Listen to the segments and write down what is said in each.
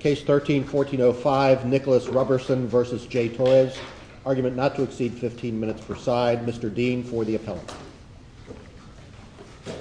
Case 13-1405, Nicholas Roberson v. J. Torres. Argument not to exceed 15 minutes per side. Mr. Dean for the appellate. Good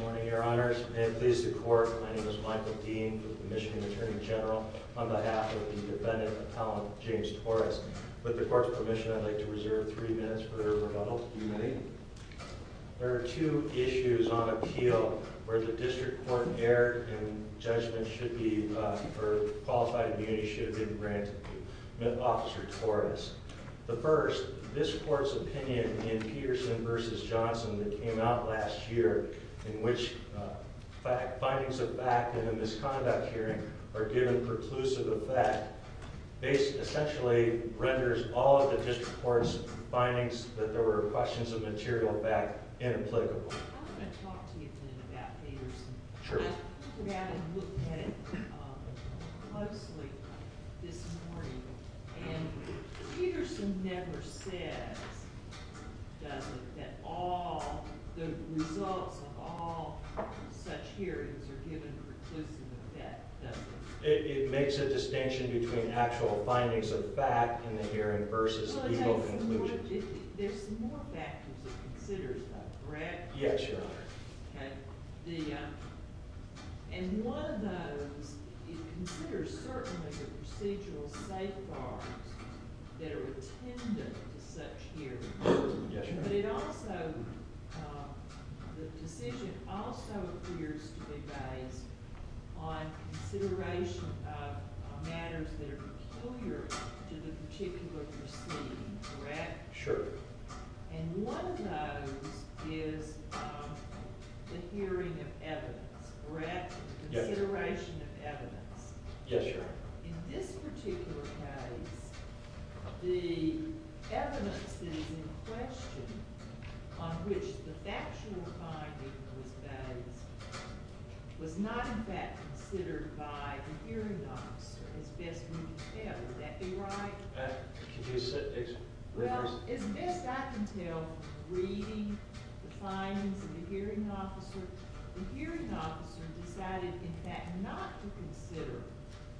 morning, your honors. May it please the court, my name is Michael Dean, the Michigan Attorney General, on behalf of the defendant, Appellant James Torres. With the court's permission, I'd like to reserve three minutes for rebuttal, if you may. There are two issues on appeal where the district court erred, and judgment should be, or qualified immunity should be granted to Officer Torres. The first, this court's opinion in Peterson v. Johnson that came out last year, in which findings of fact in a misconduct hearing are given preclusive effect, essentially renders all of the district court's findings that there were questions of material fact inapplicable. I want to talk to you a little bit about Peterson. Sure. I looked at it closely this morning, and Peterson never says, does he, that all, the results of all such hearings are given preclusive effect, does he? It makes a distinction between actual findings of fact in the hearing versus legal conclusions. There's more factors it considers, though, correct? Yes, your honor. And one of those, it considers certainly the procedural safeguards that are attendant to such hearings. Yes, your honor. But it also, the decision also appears to be based on consideration of matters that are peculiar to the particular proceeding, correct? Sure. And one of those is the hearing of evidence, correct? Yes. Consideration of evidence. Yes, your honor. In this particular case, the evidence that is in question, on which the factual finding was based, was not in fact considered by the hearing officer, as best we can tell. Would that be right? Well, as best I can tell from reading the findings of the hearing officer, the hearing officer decided in fact not to consider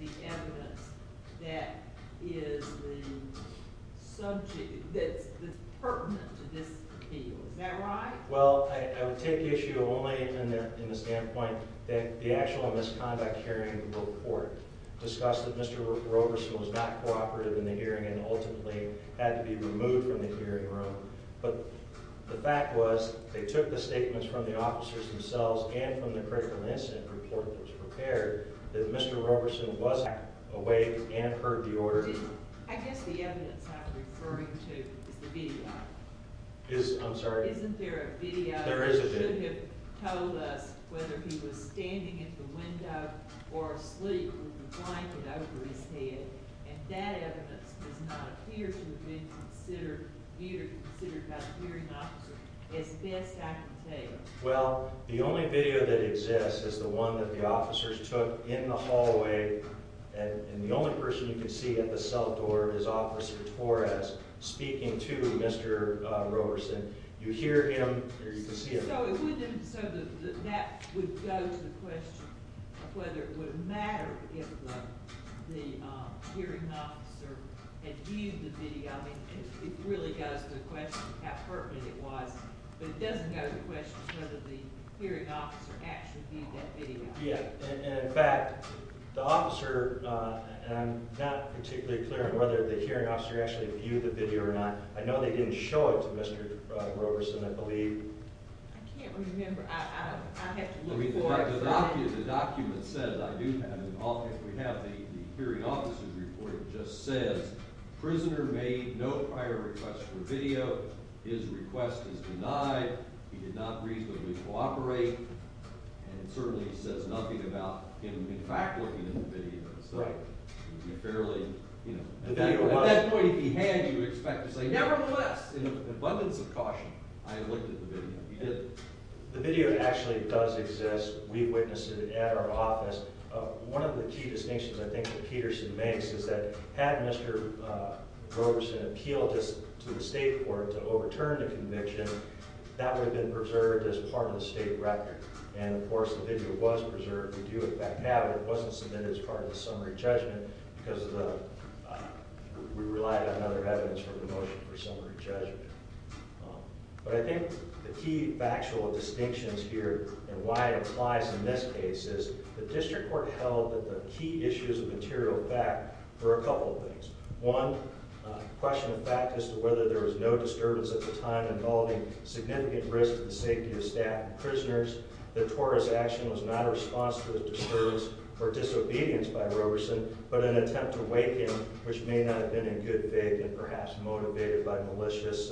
the evidence that is the subject, that's pertinent to this appeal. Is that right? Well, I would take issue only in the standpoint that the actual misconduct hearing report discussed that Mr. Roberson was not cooperative in the hearing and ultimately had to be removed from the hearing room. But the fact was, they took the statements from the officers themselves and from the critical incident report that was prepared, that Mr. Roberson was awake and heard the order. I guess the evidence I'm referring to is the video. I'm sorry? Isn't there a video? There is a video. He should have told us whether he was standing at the window or asleep with a blanket over his head, and that evidence does not appear to have been considered by the hearing officer, as best I can tell you. Well, the only video that exists is the one that the officers took in the hallway, and the only person you can see at the cell door is Officer Torres speaking to Mr. Roberson. You hear him or you can see him. So that would go to the question of whether it would have mattered if the hearing officer had viewed the video. I mean, it really goes to the question of how pertinent it was, but it doesn't go to the question of whether the hearing officer actually viewed that video. Yeah, and in fact, the officer, and I'm not particularly clear on whether the hearing officer actually viewed the video or not. I know they didn't show it to Mr. Roberson, I believe. I can't remember. I have to look for it. The document says, we have the hearing officer's report that just says, prisoner made no prior request for video. His request is denied. He did not reasonably cooperate, and it certainly says nothing about him in fact looking at the video. Right. At that point if he had, you would expect to say, nevertheless, in abundance of caution, I looked at the video. He didn't. The video actually does exist. We witnessed it at our office. One of the key distinctions I think that Peterson makes is that had Mr. Roberson appealed this to the state court to overturn the conviction, that would have been preserved as part of the state record. And of course, the video was preserved. We do in fact have it. It wasn't submitted as part of the summary judgment because we relied on other evidence for the motion for summary judgment. But I think the key factual distinctions here and why it applies in this case is, the district court held that the key issues of material fact were a couple of things. One, a question of fact as to whether there was no disturbance at the time involving significant risk to the safety of staff and prisoners, that Torres' action was not a response to a disturbance or disobedience by Roberson, but an attempt to wake him, which may not have been in good faith and perhaps motivated by the malicious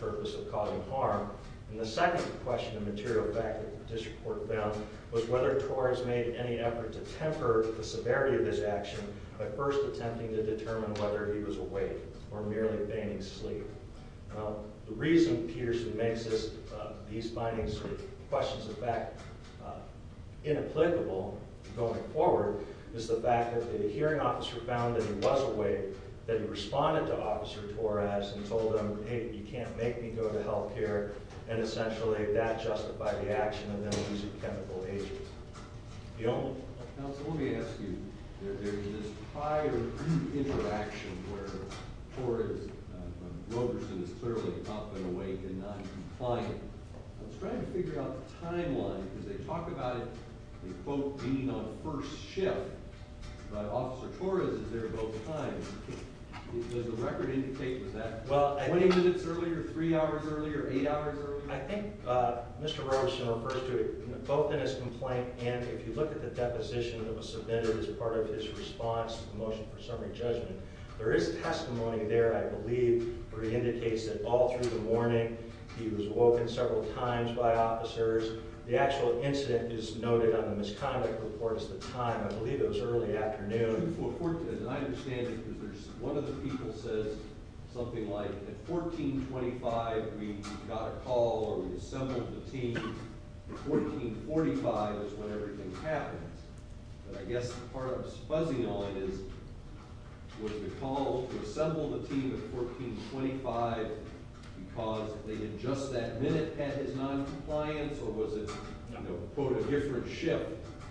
purpose of causing harm. And the second question of material fact that the district court found was whether Torres made any effort to temper the severity of his action by first attempting to determine whether he was awake or merely fainting asleep. Now, the reason Peterson makes these findings of questions of fact inapplicable going forward is the fact that the hearing officer found that he was awake, that he responded to Officer Torres and told him, hey, you can't make me go to health care, and essentially that justified the action of them using chemical agents. Counsel, let me ask you, there's this prior interaction where Roberson is clearly up and awake and not complying. I was trying to figure out the timeline, because they talk about it being a first shift, but Officer Torres is there both times. Does the record indicate that 20 minutes earlier, 3 hours earlier, 8 hours earlier? I think Mr. Roberson refers to it both in his complaint, and if you look at the deposition that was submitted as part of his response to the motion for summary judgment, there is testimony there, I believe, where he indicates that all through the morning, he was awoken several times by officers. The actual incident is noted on the misconduct report at the time. I believe it was early afternoon. As I understand it, one of the people says something like, at 1425, we got a call or we assembled a team. At 1445 is when everything happened. But I guess part of what's fuzzy on it is, was the call to assemble the team at 1425 because they had just that minute had his noncompliance, or was it, quote, a different shift?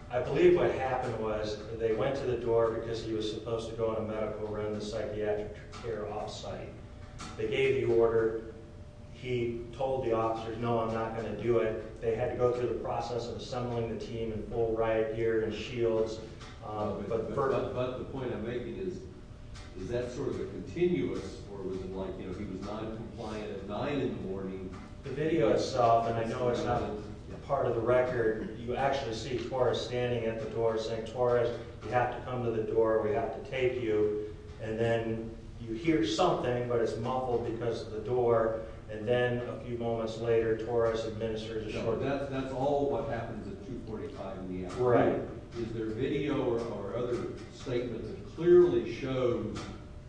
I believe what happened was they went to the door because he was supposed to go in a medical room, the psychiatric care off-site. They gave the order. He told the officers, no, I'm not going to do it. They had to go through the process of assembling the team in full riot gear and shields. But the point I'm making is, is that sort of a continuous, or was it like he was noncompliant at 9 in the morning? The video itself, and I know it's not part of the record, you actually see Torres standing at the door saying, Torres, you have to come to the door. We have to take you. And then you hear something, but it's muffled because of the door. And then a few moments later, Torres administers a short- So that's all what happens at 245 in the afternoon. Right. Is there video or other statements that clearly show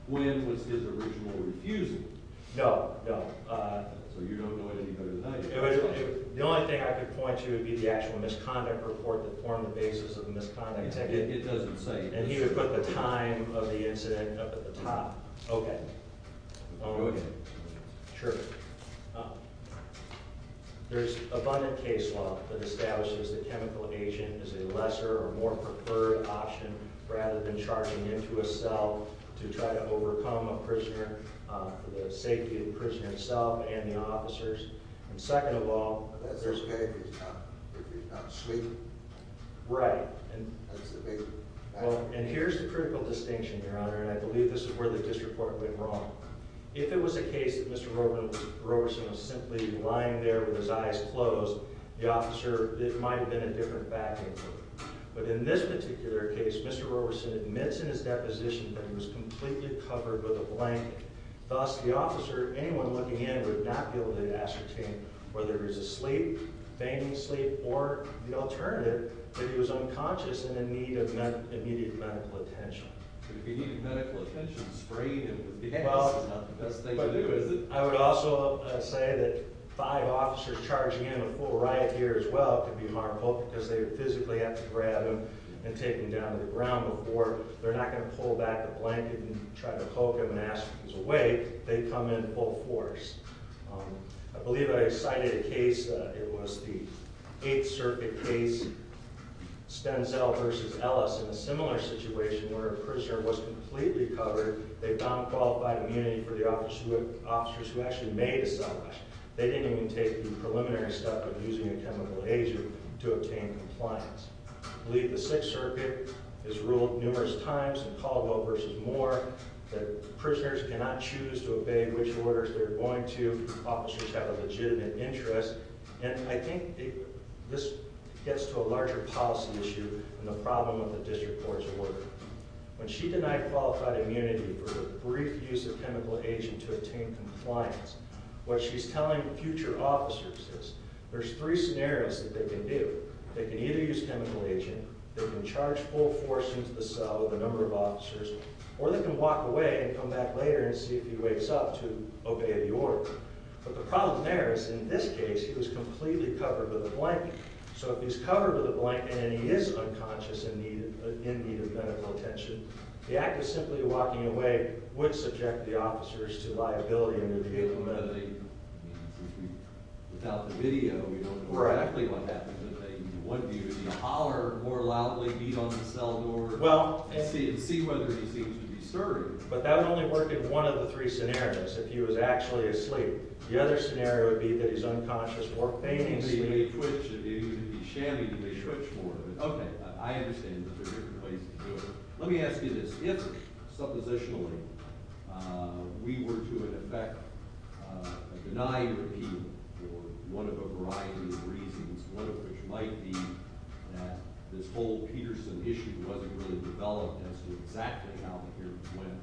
when was his original refusal? No, no. So you don't know it any better than I do. The only thing I could point to would be the actual misconduct report that formed the basis of the misconduct. It doesn't say. And he would put the time of the incident up at the top. Okay. I'll go again. Sure. There's abundant case law that establishes the chemical agent is a lesser or more preferred option rather than charging into a cell to try to overcome a prisoner for the safety of the prisoner himself and the officers. And second of all- But that's okay if he's not sleeping. Right. That's the basic fact. And here's the critical distinction, Your Honor, and I believe this is where the disreport went wrong. If it was a case that Mr. Roberson was simply lying there with his eyes closed, the officer might have been in a different vacuum. But in this particular case, Mr. Roberson admits in his deposition that he was completely covered with a blanket. Thus, the officer, anyone looking in, would not be able to ascertain whether he was asleep, fainting asleep, or the alternative, that he was unconscious and in need of immediate medical attention. If he needed medical attention, spraying him with decoction is not the best thing to do, is it? I would also say that five officers charging in a full riot here as well could be markable because they would physically have to grab him and take him down to the ground before they're not going to pull back the blanket and try to poke him and ask if he's awake. They'd come in full force. I believe I cited a case. It was the Eighth Circuit case, Stenzel v. Ellis, in a similar situation where a prisoner was completely covered. They found qualified immunity for the officers who actually made a cell flash. They didn't even take the preliminary step of using a chemical laser to obtain compliance. I believe the Sixth Circuit has ruled numerous times in Caldwell v. Moore that prisoners cannot choose to obey which orders they're going to. Officers have a legitimate interest, and I think this gets to a larger policy issue than the problem of the district court's order. When she denied qualified immunity for the brief use of chemical agent to obtain compliance, what she's telling future officers is there's three scenarios that they can do. They can either use chemical agent, they can charge full force into the cell with a number of officers, or they can walk away and come back later and see if he wakes up to obey the order. But the problem there is, in this case, he was completely covered with a blanket. So if he's covered with a blanket and he is unconscious and in need of medical attention, the act of simply walking away would subject the officers to liability under the vehicle penalty. Without the video, you don't know exactly what happened to him. One view would be to holler more loudly, beat on the cell door, and see whether he seems to be serving. But that would only work in one of the three scenarios, if he was actually asleep. The other scenario would be that he's unconscious or fainting asleep. He may twitch, he may be shabby, he may twitch more. Okay, I understand that there are different ways to do it. Let me ask you this. If, suppositionally, we were to, in effect, deny your appeal for one of a variety of reasons, one of which might be that this whole Peterson issue wasn't really developed as to exactly how the hearings went,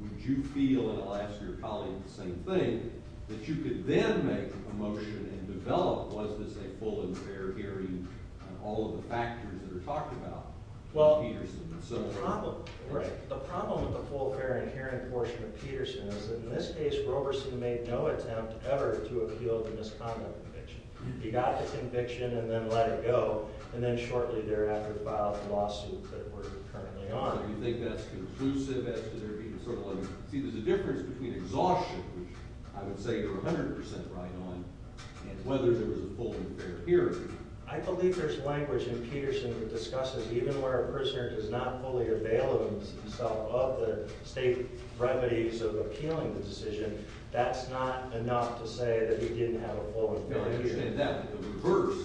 would you feel, and I'll ask your colleague the same thing, that you could then make a motion and develop, was this a full and fair hearing on all of the factors that are talked about? Well, the problem with the full, fair, and hearing portion of Peterson is that in this case, Roberson made no attempt ever to appeal the misconduct conviction. He got the conviction and then let it go, and then shortly thereafter filed the lawsuit that we're currently on. So you think that's conclusive as to there being sort of like, see, there's a difference between exhaustion, which I would say you're 100% right on, and whether there was a full and fair hearing. I believe there's language in Peterson that discusses even where a prisoner does not fully avail of himself of the state remedies of appealing the decision, that's not enough to say that he didn't have a full and fair hearing. No, I understand that. But the reverse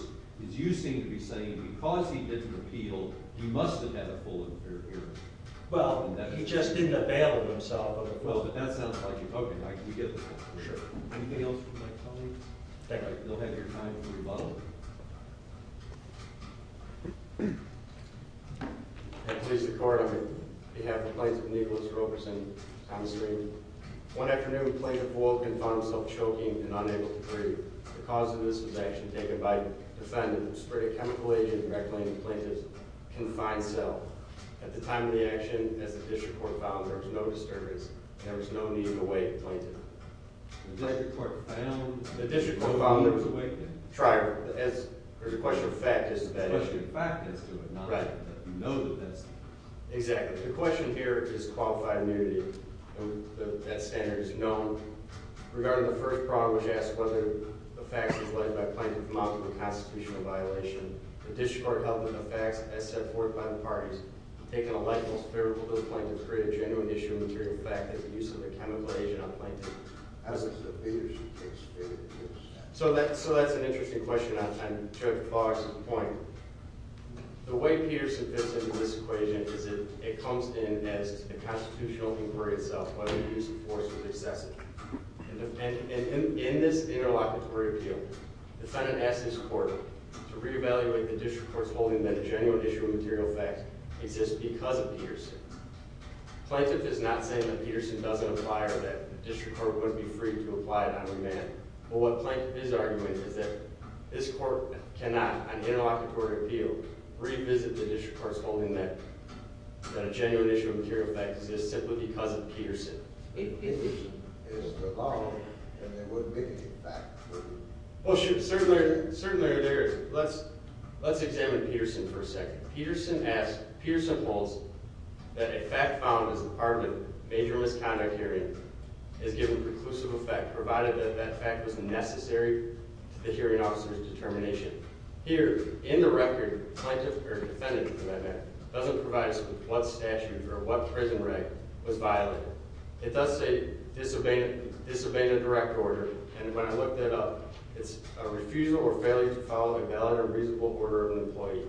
is you seem to be saying because he didn't appeal, he must have had a full and fair hearing. Well, he just didn't avail of himself of a full and fair hearing. Well, but that sounds like you. Okay. Anything else from my colleague? Thank you. All right, we'll have your time for rebuttal. I please the court on behalf of Plaintiff Nicholas Roberson, Thomas Freeman. One afternoon, a plaintiff awoke and found himself choking and unable to breathe. The cause of this was action taken by a defendant who spurred a chemical agent to reclaim the plaintiff's confined cell. At the time of the action, as the district court found, there was no disturbance. There was no need to wait, plaintiff. The district court found? The district court found there was a way to do it? Try it. There's a question of fact as to that issue. It's a question of fact as to it, not that you know that that's the case. Exactly. The question here is qualified immunity. That standard is known. Regarding the first problem, which asks whether the facts were pledged by a plaintiff from out of a constitutional violation, the district court held that the facts, as set forth by the parties, take an electable spherical to the plaintiff to create a genuine issue of material fact that the use of a chemical agent on the plaintiff as it's the Peterson case stated. So that's an interesting question. I'm going to jump to Clarke's point. The way Peterson fits into this equation is that it comes in as a constitutional inquiry itself, whether the use of force was excessive. In this interlocutory appeal, the defendant asked his court to re-evaluate the district court's holding that a genuine issue of material fact exists because of Peterson. The plaintiff is not saying that Peterson doesn't apply or that the district court wouldn't be free to apply it on demand, but what the plaintiff is arguing is that this court cannot, on interlocutory appeal, revisit the district court's holding that a genuine issue of material fact exists simply because of Peterson. It's the law, and there wouldn't be any fact. Well, certainly there is. Let's examine Peterson for a second. Peterson holds that a fact found as part of a major misconduct hearing is given preclusive effect, provided that that fact was necessary to the hearing officer's determination. Here, in the record, plaintiff or defendant, for that matter, doesn't provide us with what statute or what prison reg was violated. It does say disobeyed a direct order, and when I looked that up, it's a refusal or failure to follow the valid or reasonable order of an employee.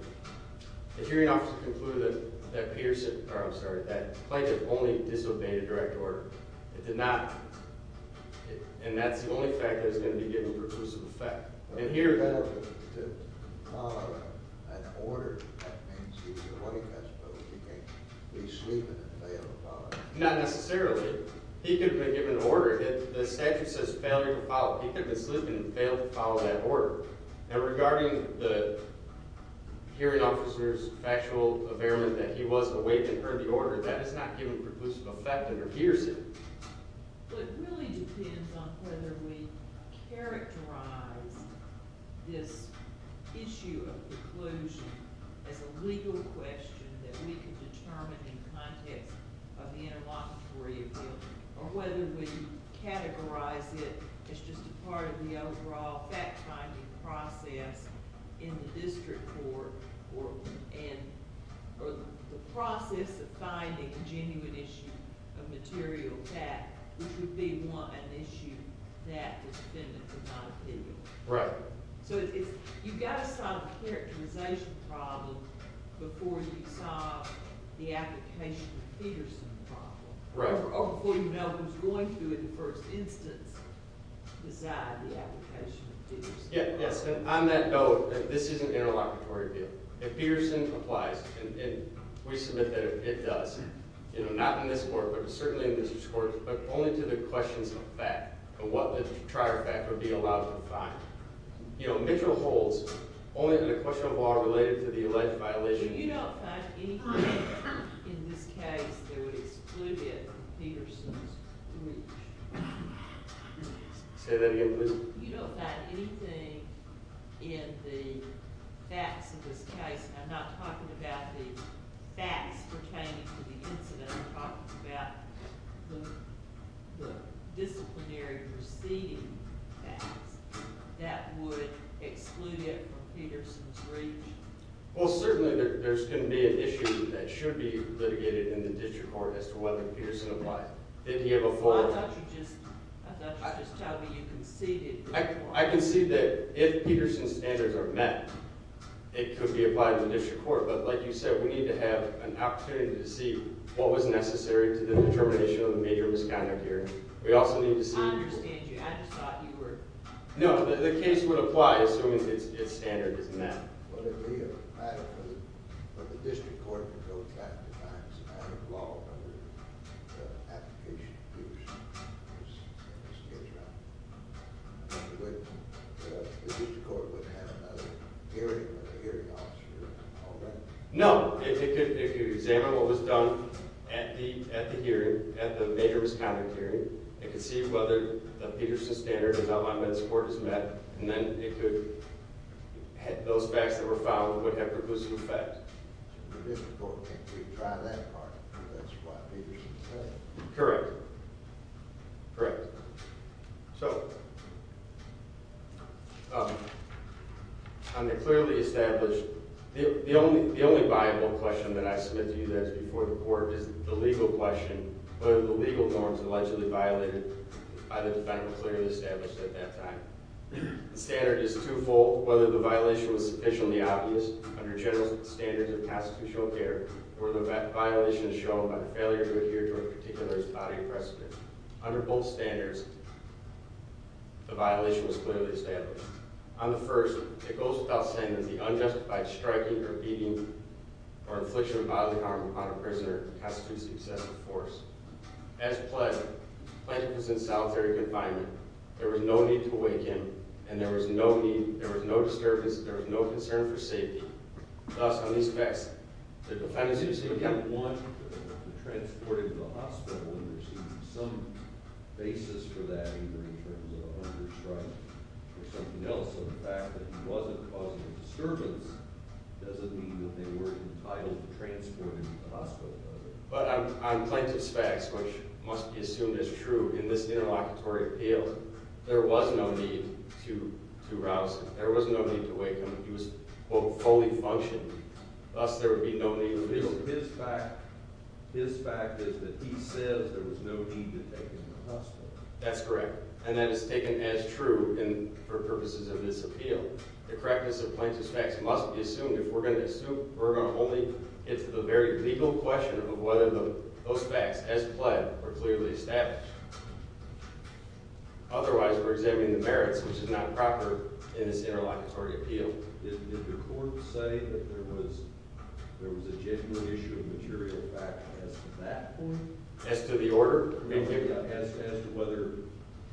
The hearing officer concluded that Peterson – or, I'm sorry, that the plaintiff only disobeyed a direct order. It did not – and that's the only fact that is going to be given preclusive effect. And here – Well, if he failed to follow an order, that means he's a money catcher, but he can't be sleeping and fail to follow it. Not necessarily. He could have been given an order. The statute says failure to follow. He could have been sleeping and failed to follow that order. Now, regarding the hearing officer's factual affairment that he was awake and heard the order, that is not given preclusive effect under Pearson. Well, it really depends on whether we characterize this issue of preclusion as a legal question that we can determine in the context of the interlocutory appeal or whether we categorize it as just a part of the overall fact-finding process in the district court or the process of finding a genuine issue of material fact, which would be, one, an issue that the defendants have not appealed. Right. So it's – you've got to solve a characterization problem before you solve the application of Peterson problem. Right. Before you know who's going to, in the first instance, decide the application of Peterson. Yes. And on that note, this is an interlocutory appeal. If Peterson applies, and we submit that it does, not in this court but certainly in district courts, but only to the questions of fact of what the trier fact would be allowed to find, Mitchell holds only on the question of law related to the alleged violation. So you don't find anything in this case that would exclude it from Peterson's breach? Say that again, please. You don't find anything in the facts of this case – and I'm not talking about the facts pertaining to the incident, I'm talking about the disciplinary proceeding facts that would exclude it from Peterson's breach? Well, certainly there's going to be an issue that should be litigated in the district court as to whether Peterson applied. Didn't he have a full – Why don't you just – why don't you just tell me you conceded? I conceded that if Peterson's standards are met, it could be applied in the district court. But like you said, we need to have an opportunity to see what was necessary to the determination of the major misconduct here. We also need to see – I understand you. I just thought you were – No, the case would apply assuming its standard is met. Would it be a matter for the district court to go back and find some matter of law under the application to use in this case? The district court would have another hearing with a hearing officer and all that? No. If you examine what was done at the hearing, at the major misconduct hearing, it could see whether the Peterson standard is outlined by this court as met, and then it could – those facts that were found would have reclusive effect. The district court can't retry that part. That's what Peterson said. Correct. Correct. So, on the clearly established – the only viable question that I submit to you that's before the court is the legal question. What are the legal norms allegedly violated by the defendant clearly established at that time? The standard is twofold, whether the violation was sufficiently obvious under general standards of constitutional care, or whether that violation is shown by the failure to adhere to a particular body precedent. Under both standards, the violation was clearly established. On the first, it goes without saying that the unjustified striking or beating or infliction of bodily harm upon a prisoner constitutes excessive force. As pledged, the plaintiff was in solitary confinement. There was no need to wake him, and there was no need – there was no disturbance, there was no concern for safety. Thus, on these facts, the defendant seems to have, again, wanted to transport him to the hospital, and there seems to be some basis for that, either in terms of a hunger strike or something else. So the fact that he wasn't causing a disturbance doesn't mean that they weren't entitled to transport him to the hospital, does it? But on plaintiff's facts, which must be assumed as true in this interlocutory appeal, there was no need to rouse him. There was no need to wake him. He was, quote, fully functioned. Thus, there would be no need to leave him. His fact – his fact is that he says there was no need to take him to the hospital. That's correct, and that is taken as true for purposes of this appeal. The correctness of plaintiff's facts must be assumed. If we're going to assume, we're going to only get to the very legal question of whether those facts, as pled, were clearly established. Otherwise, we're examining the merits, which is not proper in this interlocutory appeal. Did the court say that there was a genuine issue of material fact as to that point? As to the order? As to whether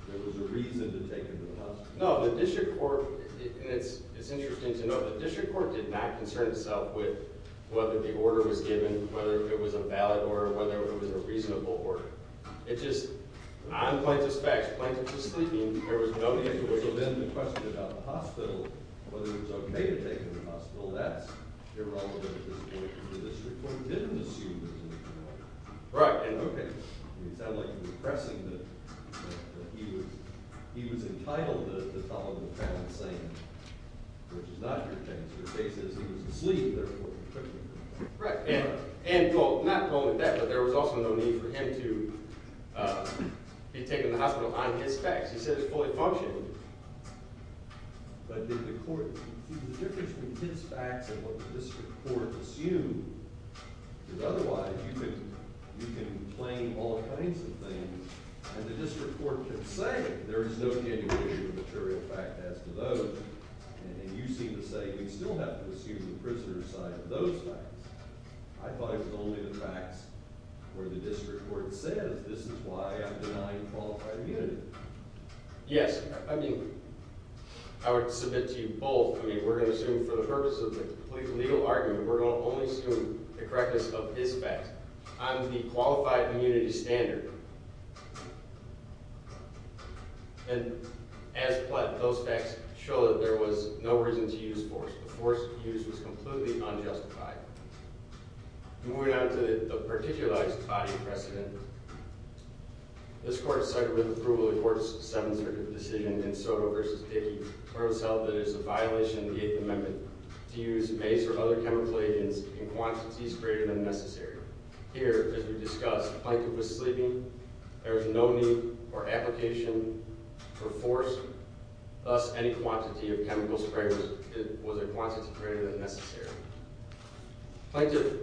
there was a reason to take him to the hospital. No, the district court – and it's interesting to note – the district court did not concern itself with whether the order was given, whether it was a valid order, whether it was a reasonable order. It just – on plaintiff's facts, plaintiff was sleeping. There was no need to assume. So then the question about the hospital, whether he was okay to take him to the hospital, that's irrelevant at this point, because the district court didn't assume that he was in a good order. Right, and okay. It would sound like you were pressing that he was entitled to follow the family's saying, which is not your case. Your case is he was asleep, and therefore he couldn't do it. Right, and – well, not only that, but there was also no need for him to be taken to the hospital on his facts. He said it was fully functioning. But did the court – see, the difference between his facts and what the district court assumed is otherwise you can claim all kinds of things, and the district court can say there is no genuine issue of material fact as to those, and you seem to say you still have to assume the prisoner's side of those facts. I thought it was only the facts where the district court says this is why I'm denying qualified immunity. Yes. I mean, I would submit to you both. I mean, we're going to assume for the purpose of the complete legal argument, we're going to only assume the correctness of his facts. On the qualified immunity standard, as those facts show, there was no reason to use force. The force used was completely unjustified. Moving on to the particularized body precedent, this court cited with approval of the court's Seventh Circuit decision in Soto v. Dickey, where it was held that it was a violation of the Eighth Amendment to use mace or other chemical agents in quantities greater than necessary. Here, as we discussed, the plaintiff was sleeping. There was no need for application for force. Thus, any quantity of chemical sprayers was a quantity greater than necessary. The plaintiff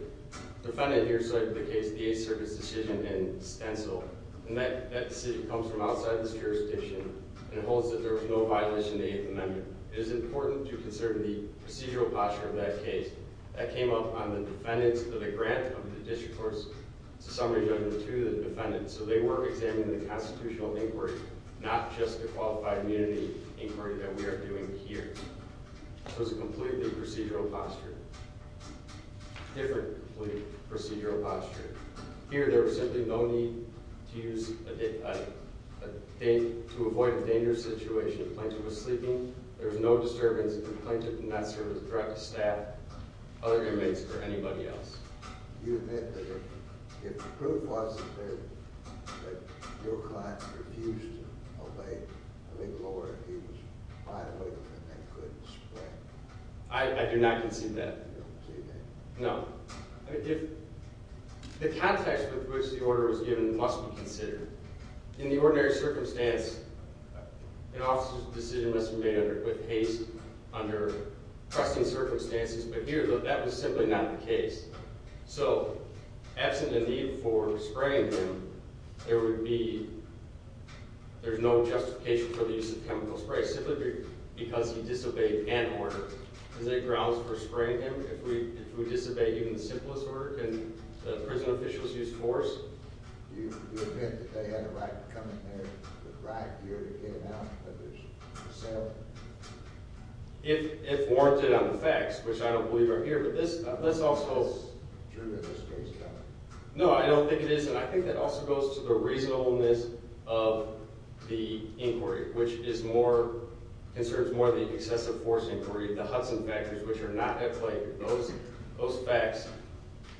defended here cited the case of the Eighth Circuit's decision in Stencil, and that decision comes from outside this jurisdiction and holds that there was no violation of the Eighth Amendment. It is important to consider the procedural posture of that case. That came up on the defendant's grant of the district court's summary judgment to the defendant, so they were examining the constitutional inquiry, not just the qualified immunity inquiry that we are doing here. So it's a completely procedural posture. Differently procedural posture. Here, there was simply no need to use a date to avoid a dangerous situation. The plaintiff was sleeping. There was no disturbance. The plaintiff did not serve as a direct staff, other inmates, or anybody else. You admit that if the proof wasn't there that your client refused to obey a legal order, he was fine with it and they couldn't spray? I do not concede that. You don't concede that? No. The context with which the order was given must be considered. In the ordinary circumstance, an officer's decision must be made with haste, under trusting circumstances. But here, that was simply not the case. So absent a need for spraying him, there would be – there's no justification for the use of chemical spray, simply because he disobeyed an order. Is there grounds for spraying him if we disobey even the simplest order? Can the prison officials use force? Do you admit that they had a right to come in there with right gear to get him out of his cell? If warranted on the facts, which I don't believe are here, but this also – Is this true that this case is valid? No, I don't think it is. And I think that also goes to the reasonableness of the inquiry, which is more – concerns more the excessive force inquiry, the Hudson factors, which are not at play. Those facts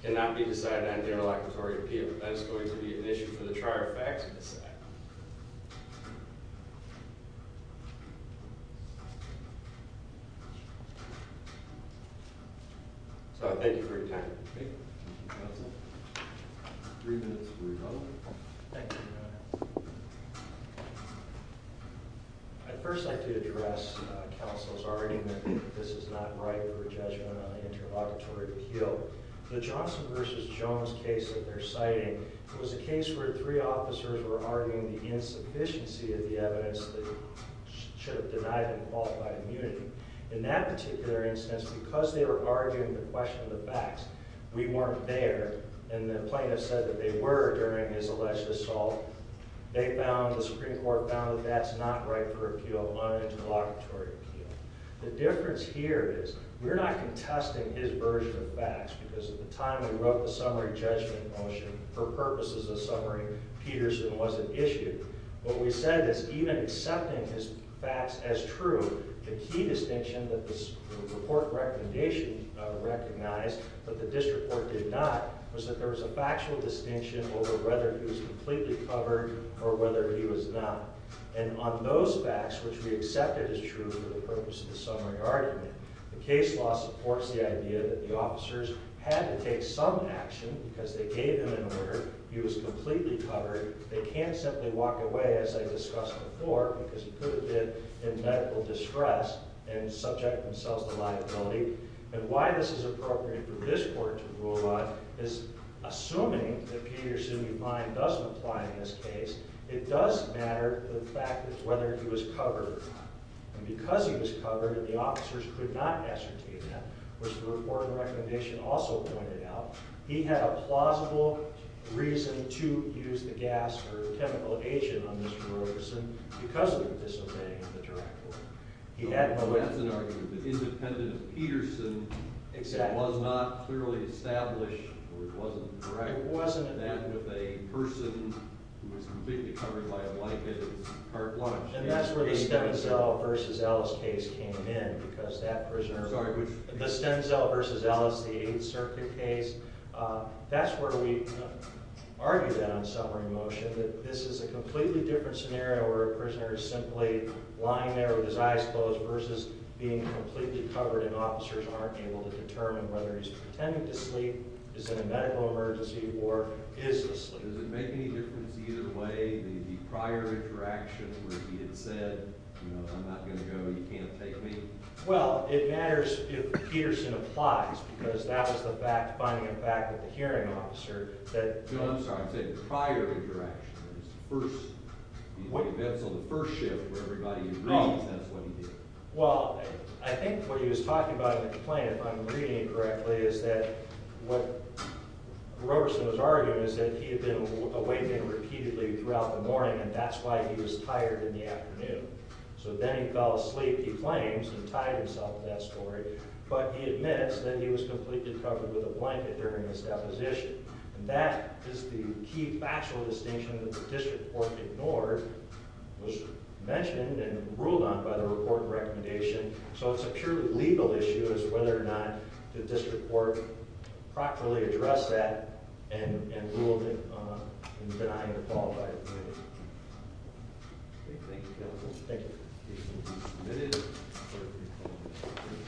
cannot be decided on during a locatory appeal. That is going to be an issue for the trier of facts to decide. So I thank you for your time. Thank you. Thank you, Counsel. Three minutes before we go. Thank you, Your Honor. I'd first like to address Counsel's argument that this is not right for a judgment on an interlocutory appeal. The Johnson v. Jones case that they're citing was a case where three officers were arguing the insufficiency of the evidence that should have denied him qualified immunity. In that particular instance, because they were arguing the question of the facts, we weren't there. And the plaintiff said that they were during his alleged assault. They found – the Supreme Court found that that's not right for appeal on an interlocutory appeal. The difference here is we're not contesting his version of facts because at the time we wrote the summary judgment motion, for purposes of summary, Peterson wasn't issued. What we said is even accepting his facts as true, the key distinction that the report recommendation recognized that the district court denied was that there was a factual distinction over whether he was completely covered or whether he was not. And on those facts, which we accepted as true for the purpose of the summary argument, the case law supports the idea that the officers had to take some action because they gave him an order. He was completely covered. They can't simply walk away, as I discussed before, because he could have been in medical distress and subject themselves to liability. And why this is appropriate for this court to rule on is assuming that Peterson, in mind, doesn't apply in this case, it does matter the fact of whether he was covered. And because he was covered and the officers could not ascertain that, which the report and recommendation also pointed out, he had a plausible reason to use the gas or chemical agent on Mr. Ferguson because of the disobeying of the district court. So that's an argument that independent of Peterson, it was not clearly established or it wasn't correct that if a person who was completely covered by a blanket is part-launched. And that's where the Stenzel v. Ellis case came in because that prisoner, the Stenzel v. Ellis, the 8th Circuit case, that's where we argued that on summary motion, that this is a completely different scenario where a prisoner is simply lying there with his eyes closed versus being completely covered and officers aren't able to determine whether he's pretending to sleep, is in a medical emergency, or is asleep. Does it make any difference either way, the prior interaction where he had said, you know, I'm not going to go, you can't take me? Well, it matters if Peterson applies because that was the fact, finding a fact with the hearing officer that… No, I'm sorry, I'm saying prior interaction, the events of the first shift where everybody agrees that's what he did. Well, I think what he was talking about in the complaint, if I'm reading it correctly, is that what Roberson was arguing is that he had been awakened repeatedly throughout the morning and that's why he was tired in the afternoon. So then he fell asleep, he claims, and tied himself to that story, but he admits that he was completely covered with a blanket during his deposition. And that is the key factual distinction that the district court ignored, was mentioned and ruled on by the report and recommendation. So it's a purely legal issue as to whether or not the district court properly addressed that and ruled in denying the qualified opinion. Thank you, counsel. Thank you.